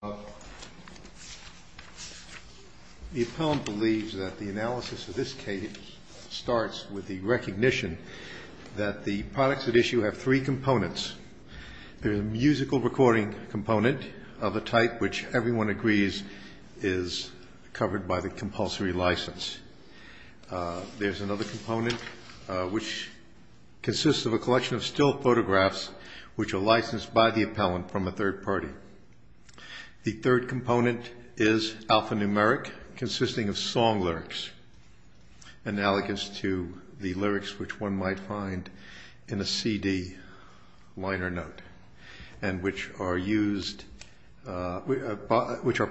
The appellant believes that the analysis of this case starts with the recognition that the products at issue have three components. There is a musical recording component of a type which everyone agrees is covered by the compulsory license. There is another component which consists of a collection of still photographs which are licensed by the appellant from a third party. The third component is alphanumeric consisting of song lyrics analogous to the lyrics which one might find in a CD liner note and which are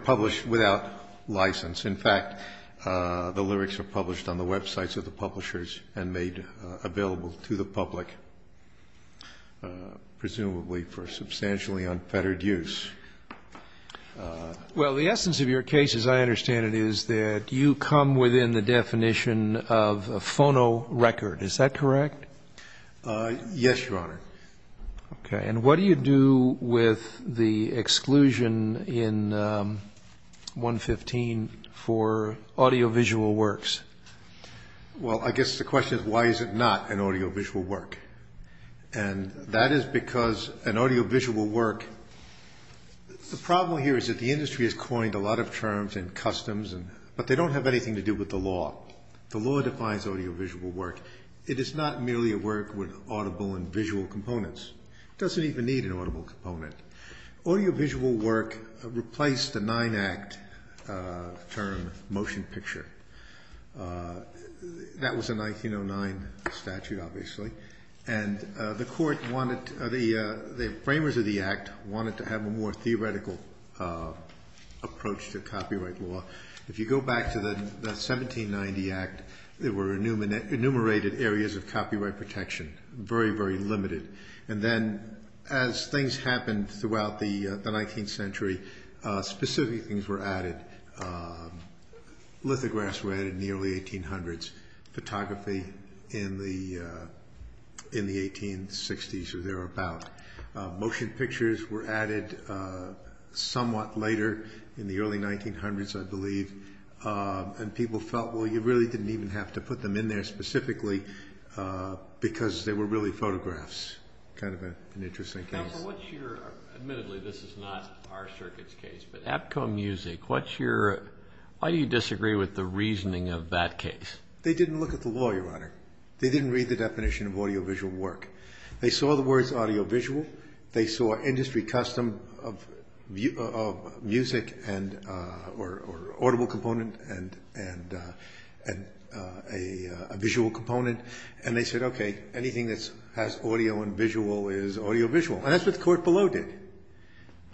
published without license. In fact, the lyrics are published on the websites of the publishers and made available to the public, presumably for substantially unfettered use. Well, the essence of your case, as I understand it, is that you come within the definition of a phono record. Is that correct? Yes, Your Honor. And what do you do with the exclusion in 115 for audiovisual works? Well, I guess the question is why is it not an audiovisual work? And that is because an audiovisual work... The problem here is that the industry has coined a lot of terms and customs, but they don't have anything to do with the law. The law defines audiovisual work. It is not merely a work with audible and visual components. It doesn't even need an audible component. Audiovisual work replaced the nine-act term motion picture. That was a 1909 statute, obviously, and the court wanted... The framers of the act wanted to have a more theoretical approach to copyright law. If you go back to the 1790 act, there were enumerated areas of copyright protection. Very, very limited. And then as things happened throughout the 19th century, specific things were added. Lithographs were added in the early 1800s. Photography in the 1860s or thereabout. Motion pictures were added somewhat later in the early 1900s, I believe. And people felt, well, you really didn't even have to put them in there specifically because they were really photographs. Kind of an interesting case. Admittedly, this is not our circuit's case, but APCO Music, why do you disagree with the reasoning of that case? They didn't look at the law, Your Honor. They didn't read the definition of audiovisual work. They saw the words audiovisual. They saw industry custom of music or audible component and a visual component. And they said, okay, anything that has audio and visual is audiovisual. And that's what the court below did.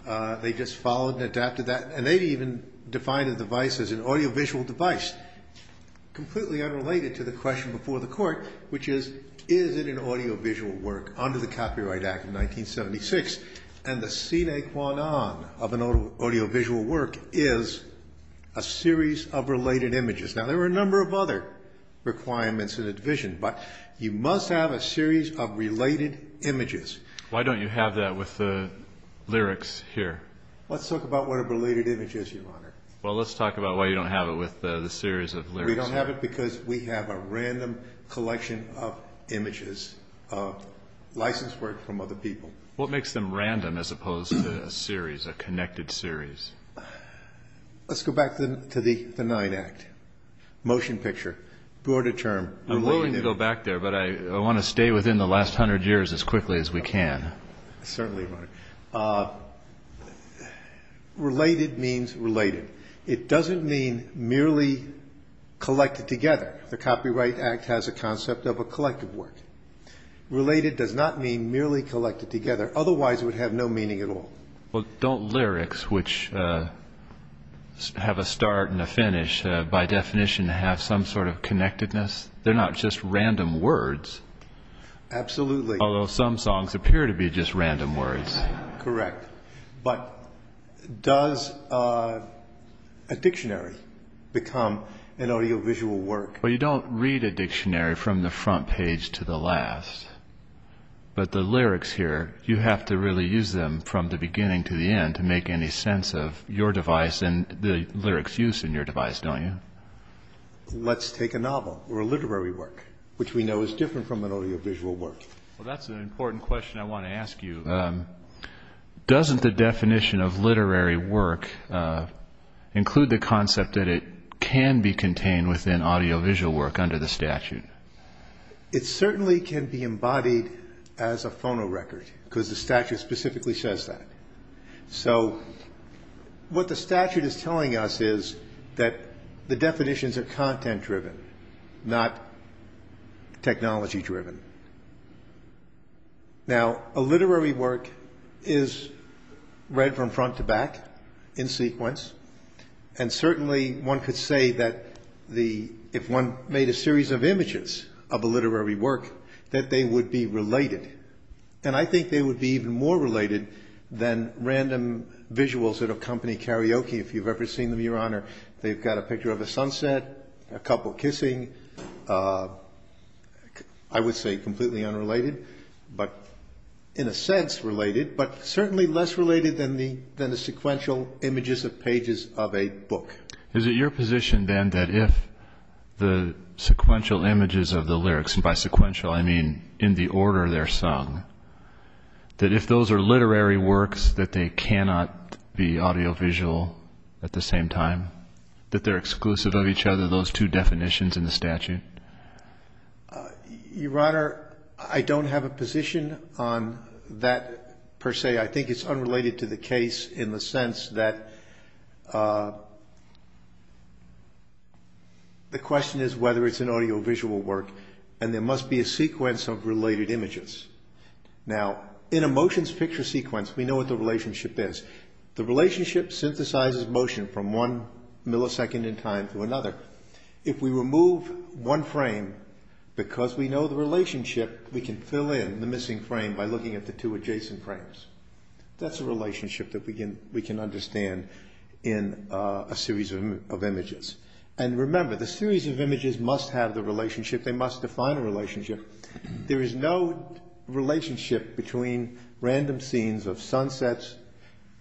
They just followed and adapted that. And they even defined a device as an audiovisual device. Completely unrelated to the question before the court, which is, is it an audiovisual work under the Copyright Act of 1976? And the sine qua non of an audiovisual work is a series of related images. Now, there were a number of other requirements in the division, but you must have a series of related images. Why don't you have that with the lyrics here? Let's talk about what a related image is, Your Honor. Well, let's talk about why you don't have it with the series of lyrics here. We don't have it because we have a random collection of images of licensed work from other people. What makes them random as opposed to a series, a connected series? Let's go back to the Ninth Act. Motion picture, broader term. I'm willing to go back there, but I want to stay within the last hundred years as quickly as we can. Certainly, Your Honor. Related means related. It doesn't mean merely collected together. The Copyright Act has a concept of a collective work. Related does not mean merely collected together. Otherwise, it would have no meaning at all. Well, don't lyrics, which have a start and a finish, by definition have some sort of connectedness? They're not just random words. Absolutely. Although some songs appear to be just random words. Correct. But does a dictionary become an audiovisual work? Well, you don't read a dictionary from the front page to the last. But the lyrics here, you have to really use them from the beginning to the end to make any sense of your device and the lyrics used in your device, don't you? Let's take a novel or a literary work, which we know is different from an audiovisual work. Well, that's an important question I want to ask you. Doesn't the definition of literary work include the concept that it can be contained within audiovisual work under the statute? It certainly can be embodied as a phonorecord because the statute specifically says that. So what the statute is telling us is that the definitions are content driven, not technology driven. Now, a literary work is read from front to back in sequence. And certainly one could say that if one made a series of images of a literary work, that they would be related. And I think they would be even more related than random visuals that accompany karaoke, if you've ever seen them, Your Honor. They've got a picture of a sunset, a couple kissing. I would say completely unrelated, but in a sense related, but certainly less related than the sequential images of pages of a book. Is it your position then that if the sequential images of the lyrics, and by sequential I mean in the order they're sung, that if those are literary works that they cannot be audiovisual at the same time, that they're exclusive of each other, those two definitions in the statute? Your Honor, I don't have a position on that per se. I think it's unrelated to the case in the sense that the question is whether it's an audiovisual work, and there must be a sequence of related images. Now, in a motions picture sequence, we know what the relationship is. The relationship synthesizes motion from one millisecond in time to another. If we remove one frame, because we know the relationship, we can fill in the missing frame by looking at the two adjacent frames. That's a relationship that we can understand in a series of images. And remember, the series of images must have the relationship. They must define a relationship. There is no relationship between random scenes of sunsets,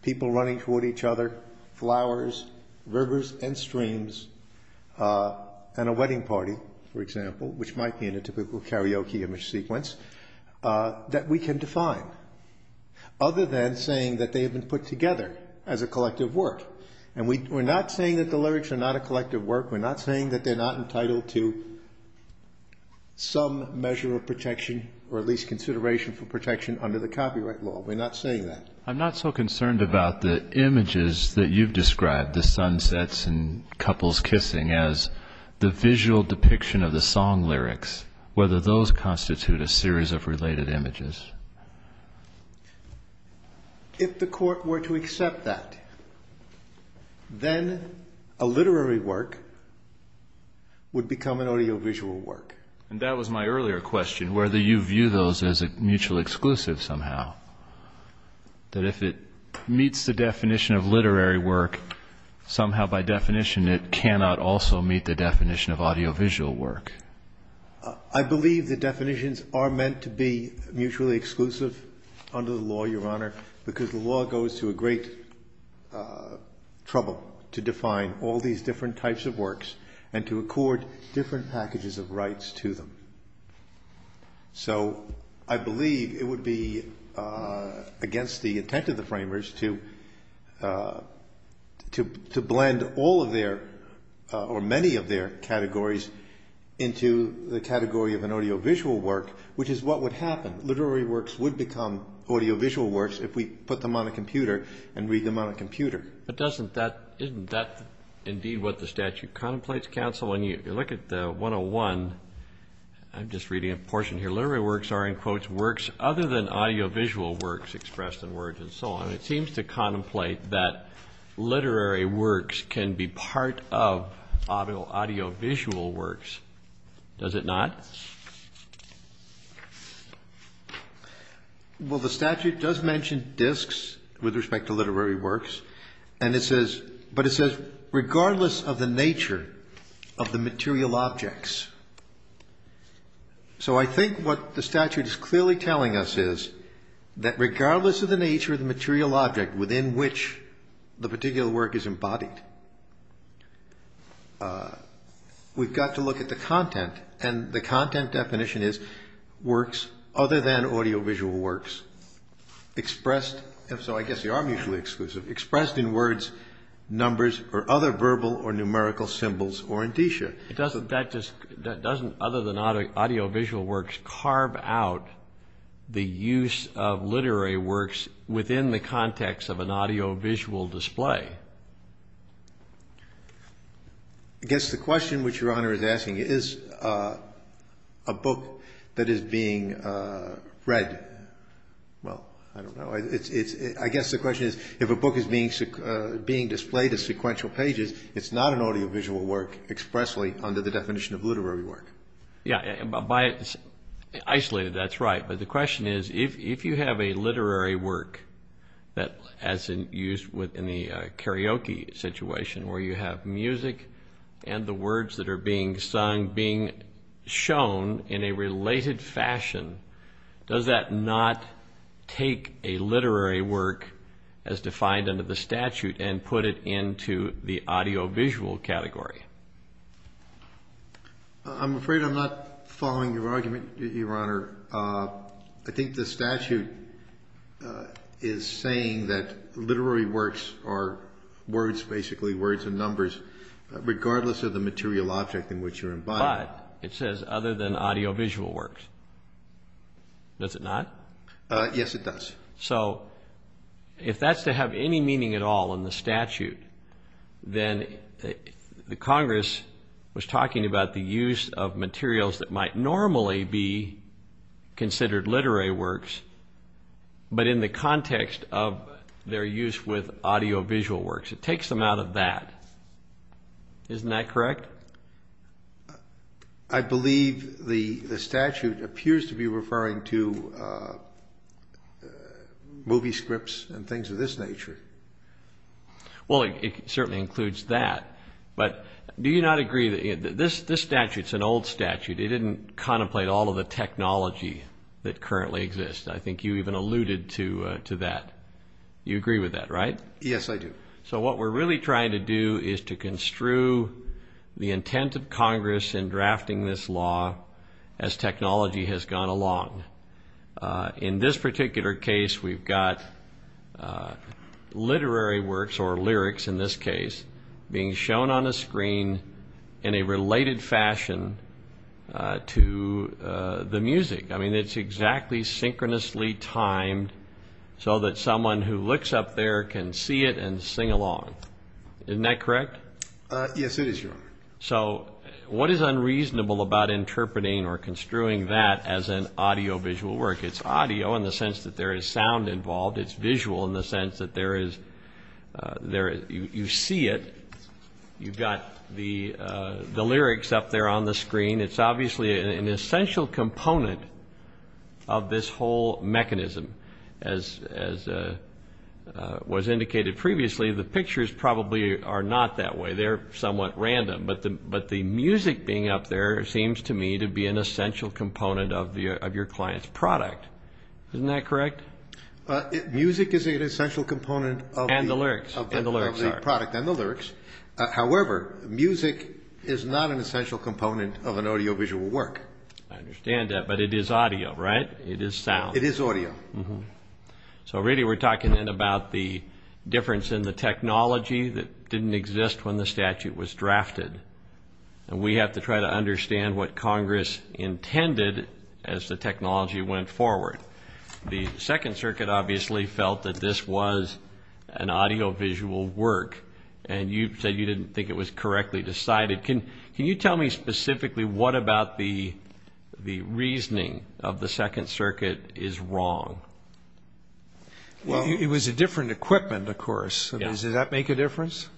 people running toward each other, flowers, rivers and streams, and a wedding party, for example, which might be in a typical karaoke image sequence, that we can define, other than saying that they have been put together as a collective work. And we're not saying that the lyrics are not a collective work. We're not saying that they're not entitled to some measure of protection, or at least consideration for protection under the copyright law. We're not saying that. I'm not so concerned about the images that you've described, the sunsets and couples kissing, as the visual depiction of the song lyrics, whether those constitute a series of related images. If the court were to accept that, then a literary work would become an audiovisual work. And that was my earlier question, whether you view those as mutually exclusive somehow, that if it meets the definition of literary work, somehow by definition it cannot also meet the definition of audiovisual work. I believe the definitions are meant to be mutually exclusive under the law, Your Honor, because the law goes to a great trouble to define all these different types of works, and to accord different packages of rights to them. So I believe it would be against the intent of the framers to blend all of their, or many of their categories into the category of an audiovisual work, which is what would happen. Literary works would become audiovisual works if we put them on a computer and read them on a computer. But isn't that indeed what the statute contemplates, counsel? When you look at 101, I'm just reading a portion here, literary works are, in quotes, works other than audiovisual works expressed in words and so on. It seems to contemplate that literary works can be part of audiovisual works, does it not? Well, the statute does mention discs with respect to literary works, but it says regardless of the nature of the material objects. So I think what the statute is clearly telling us is that regardless of the nature of the material objects, within which the particular work is embodied, we've got to look at the content. And the content definition is works other than audiovisual works, expressed, and so I guess they are mutually exclusive, expressed in words, numbers, or other verbal or numerical symbols or indicia. Doesn't other than audiovisual works carve out the use of literary works within the context of an audiovisual display? I guess the question which Your Honor is asking is a book that is being read. Well, I don't know. I guess the question is if a book is being displayed as sequential pages, it's not an audiovisual work expressly under the definition of literary work. Yeah, isolated, that's right. But the question is if you have a literary work as used in the karaoke situation where you have music and the words that are being sung being shown in a related fashion, does that not take a literary work as defined under the statute and put it into the audiovisual category? I'm afraid I'm not following your argument, Your Honor. I think the statute is saying that literary works are words, basically words and numbers, regardless of the material object in which you're embodying. But it says other than audiovisual works. Does it not? Yes, it does. So if that's to have any meaning at all in the statute, then the Congress was talking about the use of materials that might normally be considered literary works, but in the context of their use with audiovisual works. It takes them out of that. Isn't that correct? I believe the statute appears to be referring to movie scripts and things of this nature. Well, it certainly includes that. But do you not agree that this statute is an old statute? It didn't contemplate all of the technology that currently exists. I think you even alluded to that. You agree with that, right? Yes, I do. So what we're really trying to do is to construe the intent of Congress in drafting this law as technology has gone along. In this particular case, we've got literary works, or lyrics in this case, being shown on a screen in a related fashion to the music. I mean, it's exactly synchronously timed so that someone who looks up there can see it and sing along. Isn't that correct? Yes, it is, Your Honor. So what is unreasonable about interpreting or construing that as an audiovisual work? It's audio in the sense that there is sound involved. It's visual in the sense that you see it. You've got the lyrics up there on the screen. It's obviously an essential component of this whole mechanism. As was indicated previously, the pictures probably are not that way. They're somewhat random. But the music being up there seems to me to be an essential component of your client's product. Isn't that correct? Music is an essential component of the product and the lyrics. However, music is not an essential component of an audiovisual work. I understand that, but it is audio, right? It is sound. It is audio. So really we're talking about the difference in the technology that didn't exist when the statute was drafted. And we have to try to understand what Congress intended as the technology went forward. The Second Circuit obviously felt that this was an audiovisual work, and you said you didn't think it was correctly decided. Can you tell me specifically what about the reasoning of the Second Circuit is wrong? It was a different equipment, of course. Does that make a difference?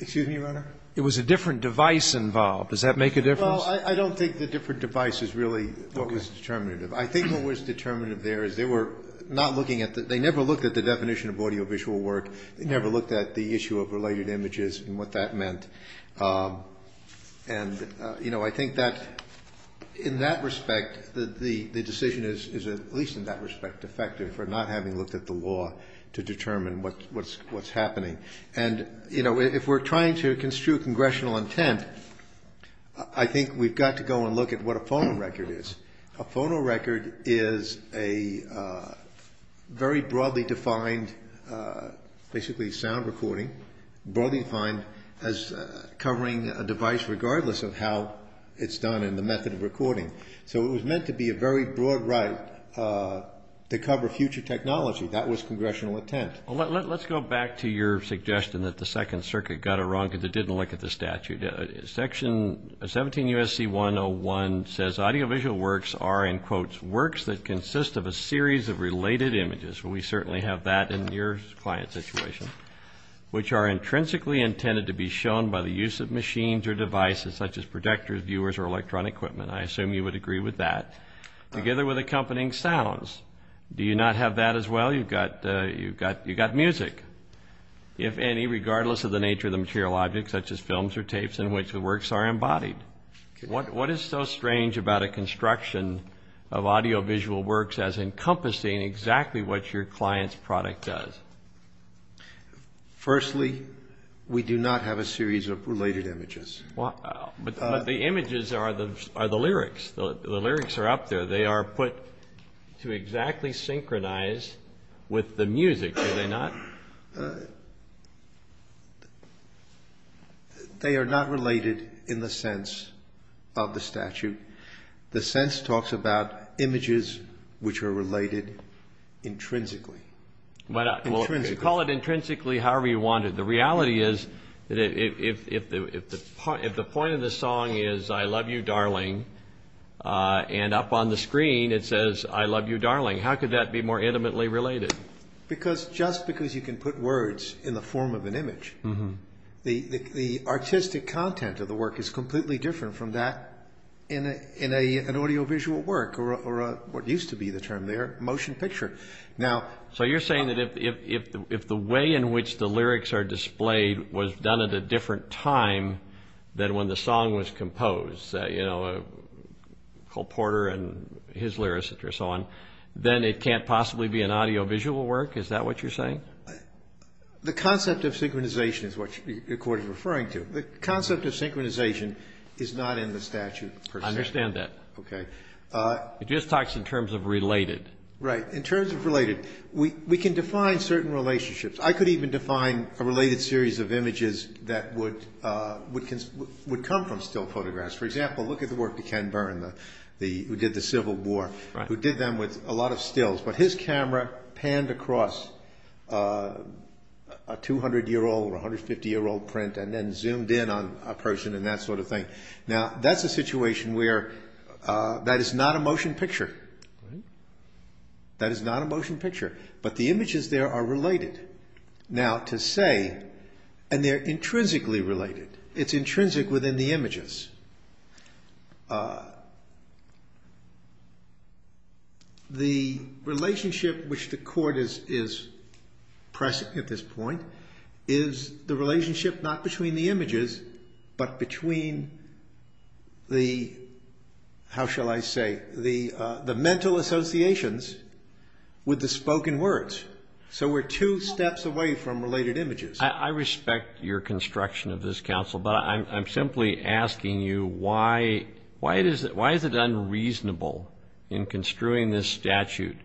Excuse me, Your Honor? It was a different device involved. Does that make a difference? Well, I don't think the different device is really what was determinative. I think what was determinative there is they were not looking at the – they never looked at the definition of audiovisual work. They never looked at the issue of related images and what that meant. And, you know, I think that in that respect the decision is, at least in that respect, effective for not having looked at the law to determine what's happening. And, you know, if we're trying to construe congressional intent, I think we've got to go and look at what a phono record is. A phono record is a very broadly defined, basically, sound recording, broadly defined as covering a device regardless of how it's done and the method of recording. So it was meant to be a very broad right to cover future technology. That was congressional intent. Let's go back to your suggestion that the Second Circuit got it wrong because it didn't look at the statute. Section 17 U.S.C. 101 says audiovisual works are, in quotes, works that consist of a series of related images. We certainly have that in your client's situation, which are intrinsically intended to be shown by the use of machines or devices such as projectors, viewers, or electronic equipment. I assume you would agree with that, together with accompanying sounds. Do you not have that as well? You've got music, if any, regardless of the nature of the material object, such as films or tapes in which the works are embodied. What is so strange about a construction of audiovisual works as encompassing exactly what your client's product does? Firstly, we do not have a series of related images. But the images are the lyrics. The lyrics are up there. They are put to exactly synchronize with the music. They are not related in the sense of the statute. The sense talks about images which are related intrinsically. Call it intrinsically, however you want it. The reality is that if the point of the song is, I love you, darling, and up on the screen it says, I love you, darling, how could that be more intimately related? Just because you can put words in the form of an image, the artistic content of the work is completely different from that in an audiovisual work, or what used to be the term there, motion picture. So you're saying that if the way in which the lyrics are displayed was done at a different time than when the song was composed, Cole Porter and his lyricists and so on, then it can't possibly be an audiovisual work? Is that what you're saying? The concept of synchronization is what your court is referring to. The concept of synchronization is not in the statute. I understand that. Okay. It just talks in terms of related. Right. In terms of related, we can define certain relationships. I could even define a related series of images that would come from still photographs. For example, look at the work of Ken Byrne, who did the Civil War, who did them with a lot of stills. But his camera panned across a 200-year-old or 150-year-old print and then zoomed in on a person and that sort of thing. Now, that's a situation where that is not a motion picture. That is not a motion picture. But the images there are related. Now, to say, and they're intrinsically related, it's intrinsic within the images. The relationship which the court is pressing at this point is the relationship not between the images but between the, how shall I say, the mental associations with the spoken words. So we're two steps away from related images. I respect your construction of this counsel, but I'm simply asking you, why is it unreasonable in construing this statute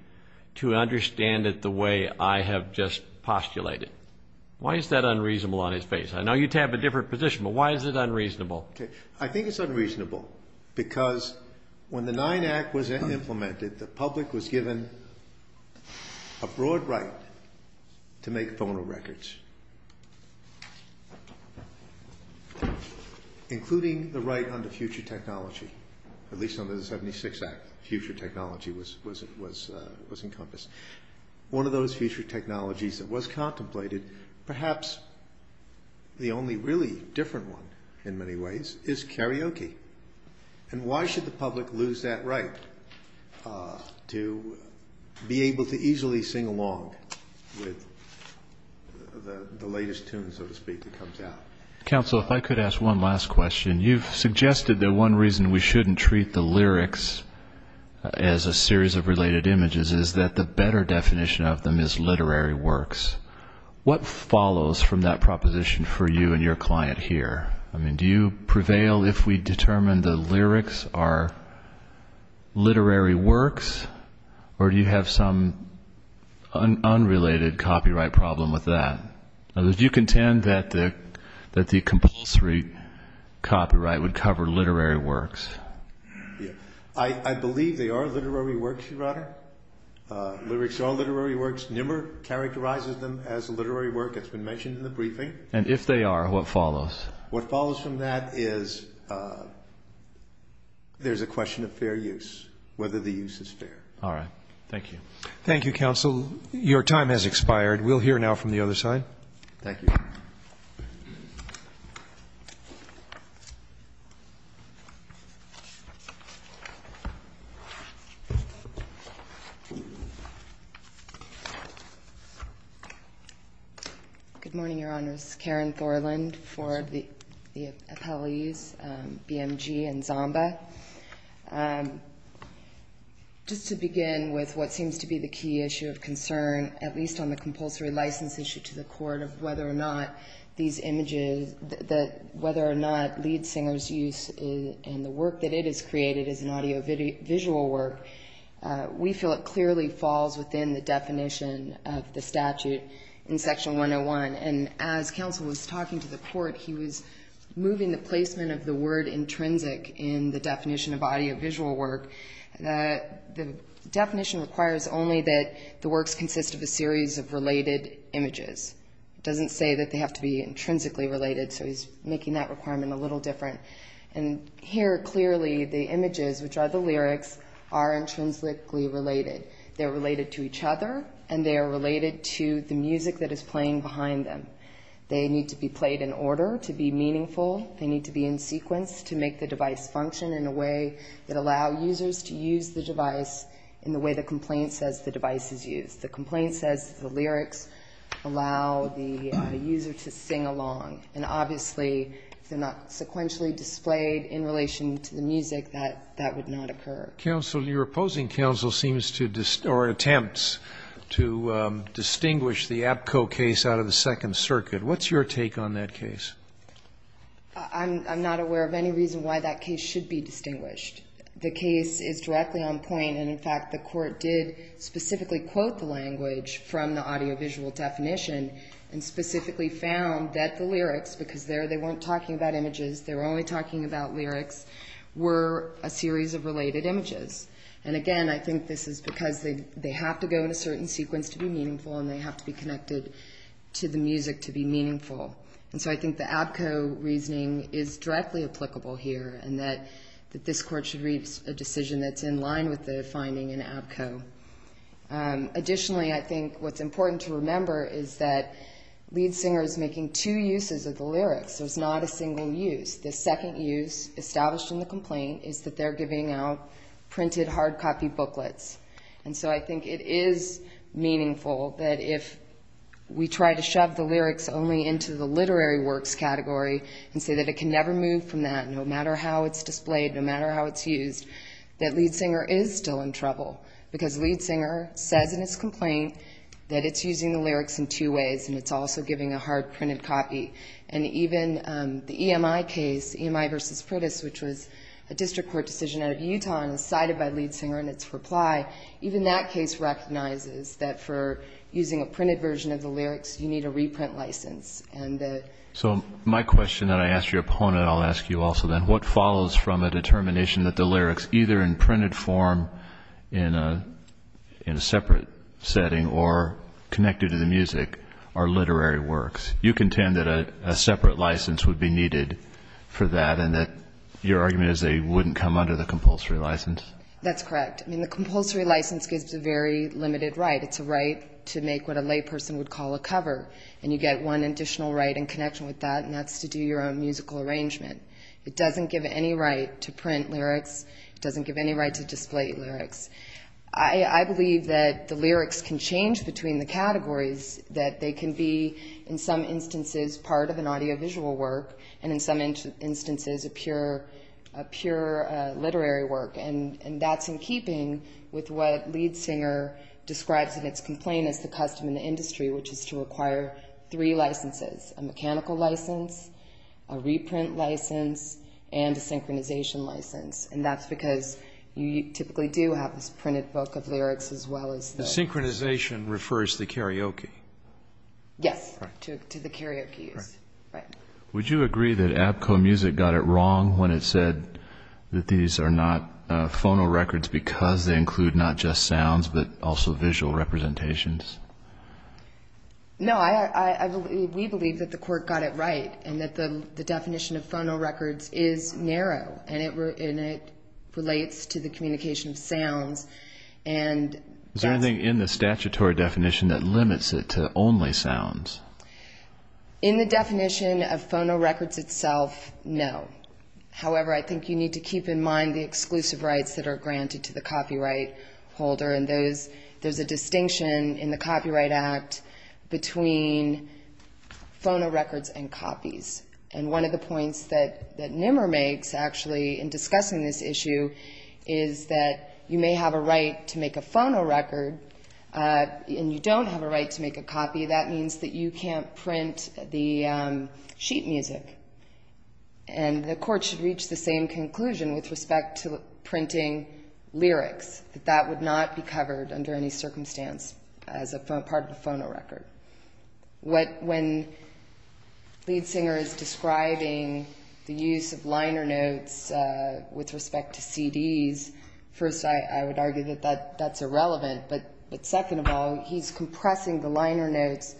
to understand it the way I have just postulated? Why is that unreasonable on its face? I know you have a different position, but why is it unreasonable? I think it's unreasonable because when the 9th Act was implemented, the public was given a broad right to make phono records, including the right under future technology, at least under the 76th Act, future technology was encompassed. One of those future technologies that was contemplated, perhaps the only really different one in many ways, is karaoke. And why should the public lose that right to be able to easily sing along with the latest tunes, so to speak, that comes out? Counsel, if I could ask one last question. You've suggested that one reason we shouldn't treat the lyrics as a series of related images is that the better definition of them is literary works. What follows from that proposition for you and your client here? Do you prevail if we determine the lyrics are literary works, or do you have some unrelated copyright problem with that? Do you contend that the compulsory copyright would cover literary works? I believe they are literary works, Your Honor. Lyrics are literary works. Nimmer characterizes them as literary work. It's been mentioned in the briefing. And if they are, what follows? What follows from that is there's a question of fair use, whether the use is fair. All right. Thank you. Thank you, Counsel. Your time has expired. We'll hear now from the other side. Thank you. Good morning, Your Honors. Karen Thorland for the appellees, BMG and Zamba. Just to begin with what seems to be the key issue of concern, at least on the compulsory license issue to the court of whether or not these images, whether or not lead singer's use and the work that it has created is an audiovisual work, we feel it clearly falls within the definition of the statute in Section 101. And as Counsel was talking to the court, he was moving the placement of the word intrinsic in the definition of audiovisual work. The definition requires only that the works consist of a series of related images. It doesn't say that they have to be intrinsically related, so he's making that requirement a little different. And here, clearly, the images, which are the lyrics, are intrinsically related. They're related to each other, and they are related to the music that is playing behind them. They need to be played in order to be meaningful. They need to be in sequence to make the device function in a way that allow users to use the device in the way the complaint says the device is used. The complaint says the lyrics allow the user to sing along, and obviously if they're not sequentially displayed in relation to the music, that would not occur. Counsel, your opposing counsel seems to or attempts to distinguish the APCO case out of the Second Circuit. What's your take on that case? I'm not aware of any reason why that case should be distinguished. The case is directly on point, and in fact the court did specifically quote the language from the audiovisual definition and specifically found that the lyrics, because there they weren't talking about images, they were only talking about lyrics, were a series of related images. And again, I think this is because they have to go in a certain sequence to be meaningful and they have to be connected to the music to be meaningful. And so I think the APCO reasoning is directly applicable here and that this court should reach a decision that's in line with the finding in APCO. Additionally, I think what's important to remember is that Lead Singer is making two uses of the lyrics. There's not a single use. The second use established in the complaint is that they're giving out printed hard copy booklets. And so I think it is meaningful that if we try to shove the lyrics only into the literary works category and say that it can never move from that, no matter how it's displayed, no matter how it's used, that Lead Singer is still in trouble because Lead Singer says in its complaint that it's using the lyrics in two ways and it's also giving a hard printed copy. And even the EMI case, EMI v. Pritis, which was a district court decision out of Utah and decided by Lead Singer in its reply, even that case recognizes that for using a printed version of the lyrics, you need a reprint license. So my question that I ask your opponent, I'll ask you also then, what follows from a determination that the lyrics, either in printed form in a separate setting or connected to the music, are literary works? You contend that a separate license would be needed for that and that your argument is they wouldn't come under the compulsory license? That's correct. I mean, the compulsory license gives a very limited right. It's a right to make what a layperson would call a cover. And you get one additional right in connection with that, and that's to do your own musical arrangement. It doesn't give any right to print lyrics. It doesn't give any right to display lyrics. I believe that the lyrics can change between the categories, that they can be in some instances part of an audiovisual work and in some instances a pure literary work. And that's in keeping with what Lead Singer describes in its complaint as the custom in the industry, which is to require three licenses, a mechanical license, a reprint license, and a synchronization license. And that's because you typically do have this printed book of lyrics as well as the… Synchronization refers to karaoke. Yes, to the karaoke use. Would you agree that Abco Music got it wrong when it said that these are not phonorecords because they include not just sounds but also visual representations? No, we believe that the court got it right and that the definition of phonorecords is narrow and it relates to the communication of sounds and… Is there anything in the statutory definition that limits it to only sounds? In the definition of phonorecords itself, no. However, I think you need to keep in mind the exclusive rights that are granted to the copyright holder and there's a distinction in the Copyright Act between phonorecords and copies. And one of the points that Nimmer makes actually in discussing this issue is that you may have a right to make a phonorecord and you don't have a right to make a copy. That means that you can't print the sheet music and the court should reach the same conclusion with respect to printing lyrics, that that would not be covered under any circumstance as a part of a phonorecord. When Liedsinger is describing the use of liner notes with respect to CDs, first, I would argue that that's irrelevant, but second of all, he's compressing the liner notes.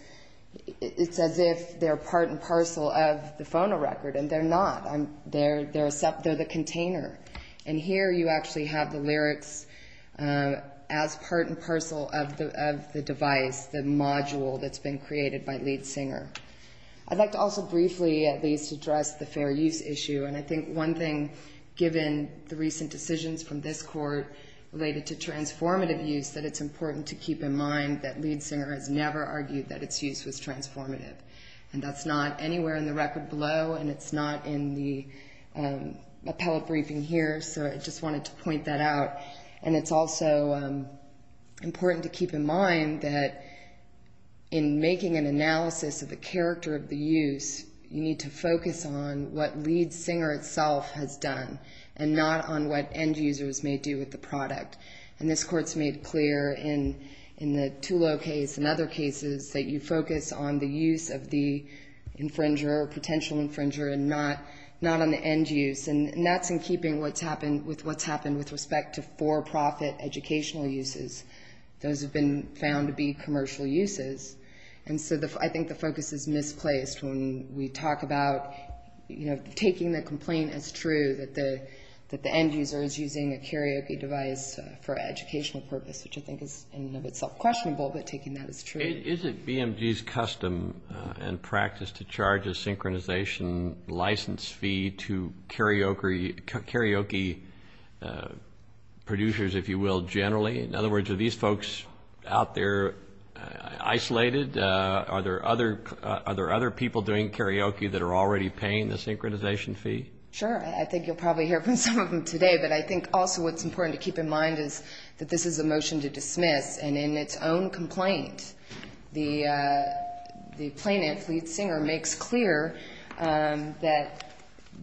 It's as if they're part and parcel of the phonorecord and they're not. They're the container. And here you actually have the lyrics as part and parcel of the device, the module that's been created by Liedsinger. I'd like to also briefly at least address the fair use issue and I think one thing given the recent decisions from this court related to transformative use is that it's important to keep in mind that Liedsinger has never argued that its use was transformative. And that's not anywhere in the record below and it's not in the appellate briefing here, so I just wanted to point that out. And it's also important to keep in mind that in making an analysis of the character of the use, you need to focus on what Liedsinger itself has done and not on what end users may do with the product. And this court's made clear in the Tulo case and other cases that you focus on the use of the infringer or potential infringer and not on the end use. And that's in keeping with what's happened with respect to for-profit educational uses. Those have been found to be commercial uses. And so I think the focus is misplaced when we talk about taking the complaint as true that the end user is using a karaoke device for educational purpose, which I think is in and of itself questionable, but taking that as true. Isn't BMG's custom and practice to charge a synchronization license fee to karaoke producers, if you will, generally? In other words, are these folks out there isolated? Are there other people doing karaoke that are already paying the synchronization fee? Sure. I think you'll probably hear from some of them today. But I think also what's important to keep in mind is that this is a motion to dismiss. And in its own complaint, the plaintiff, Liedsinger, makes clear that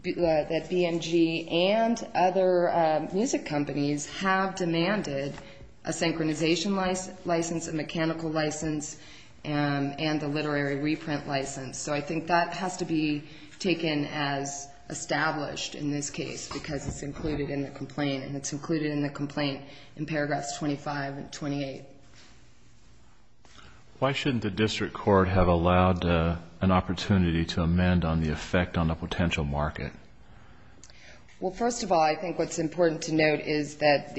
BMG and other music companies have demanded a synchronization license, a mechanical license, and a literary reprint license. So I think that has to be taken as established in this case because it's included in the complaint. And it's included in the complaint in paragraphs 25 and 28. Why shouldn't the district court have allowed an opportunity to amend on the effect on a potential market? Well, first of all, I think what's important to note is that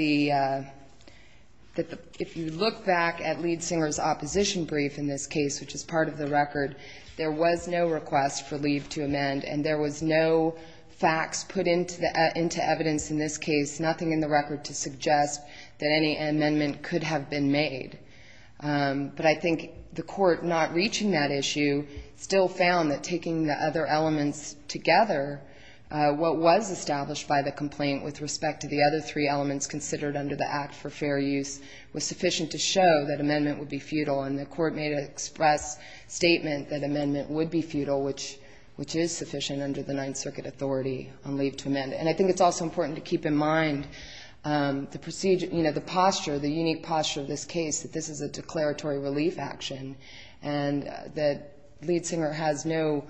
if you look back at Liedsinger's opposition brief in this case, which is part of the record, there was no request for leave to amend, and there was no facts put into evidence in this case, nothing in the record to suggest that any amendment could have been made. But I think the court, not reaching that issue, still found that taking the other elements together, what was established by the complaint with respect to the other three elements considered under the Act for Fair Use was sufficient to show that amendment would be futile. And the court made an express statement that amendment would be futile, which is sufficient under the Ninth Circuit authority on leave to amend. And I think it's also important to keep in mind the posture, the unique posture of this case, that this is a declaratory relief action and that Liedsinger has no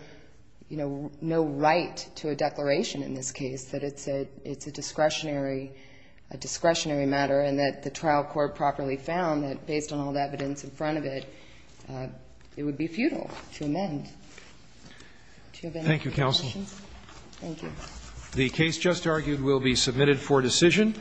right to a declaration in this case, that it's a discretionary matter, and that the trial court properly found that based on all the evidence in front of it, it would be futile to amend. Do you have any other questions? Thank you, counsel. Thank you. The case just argued will be submitted for decision.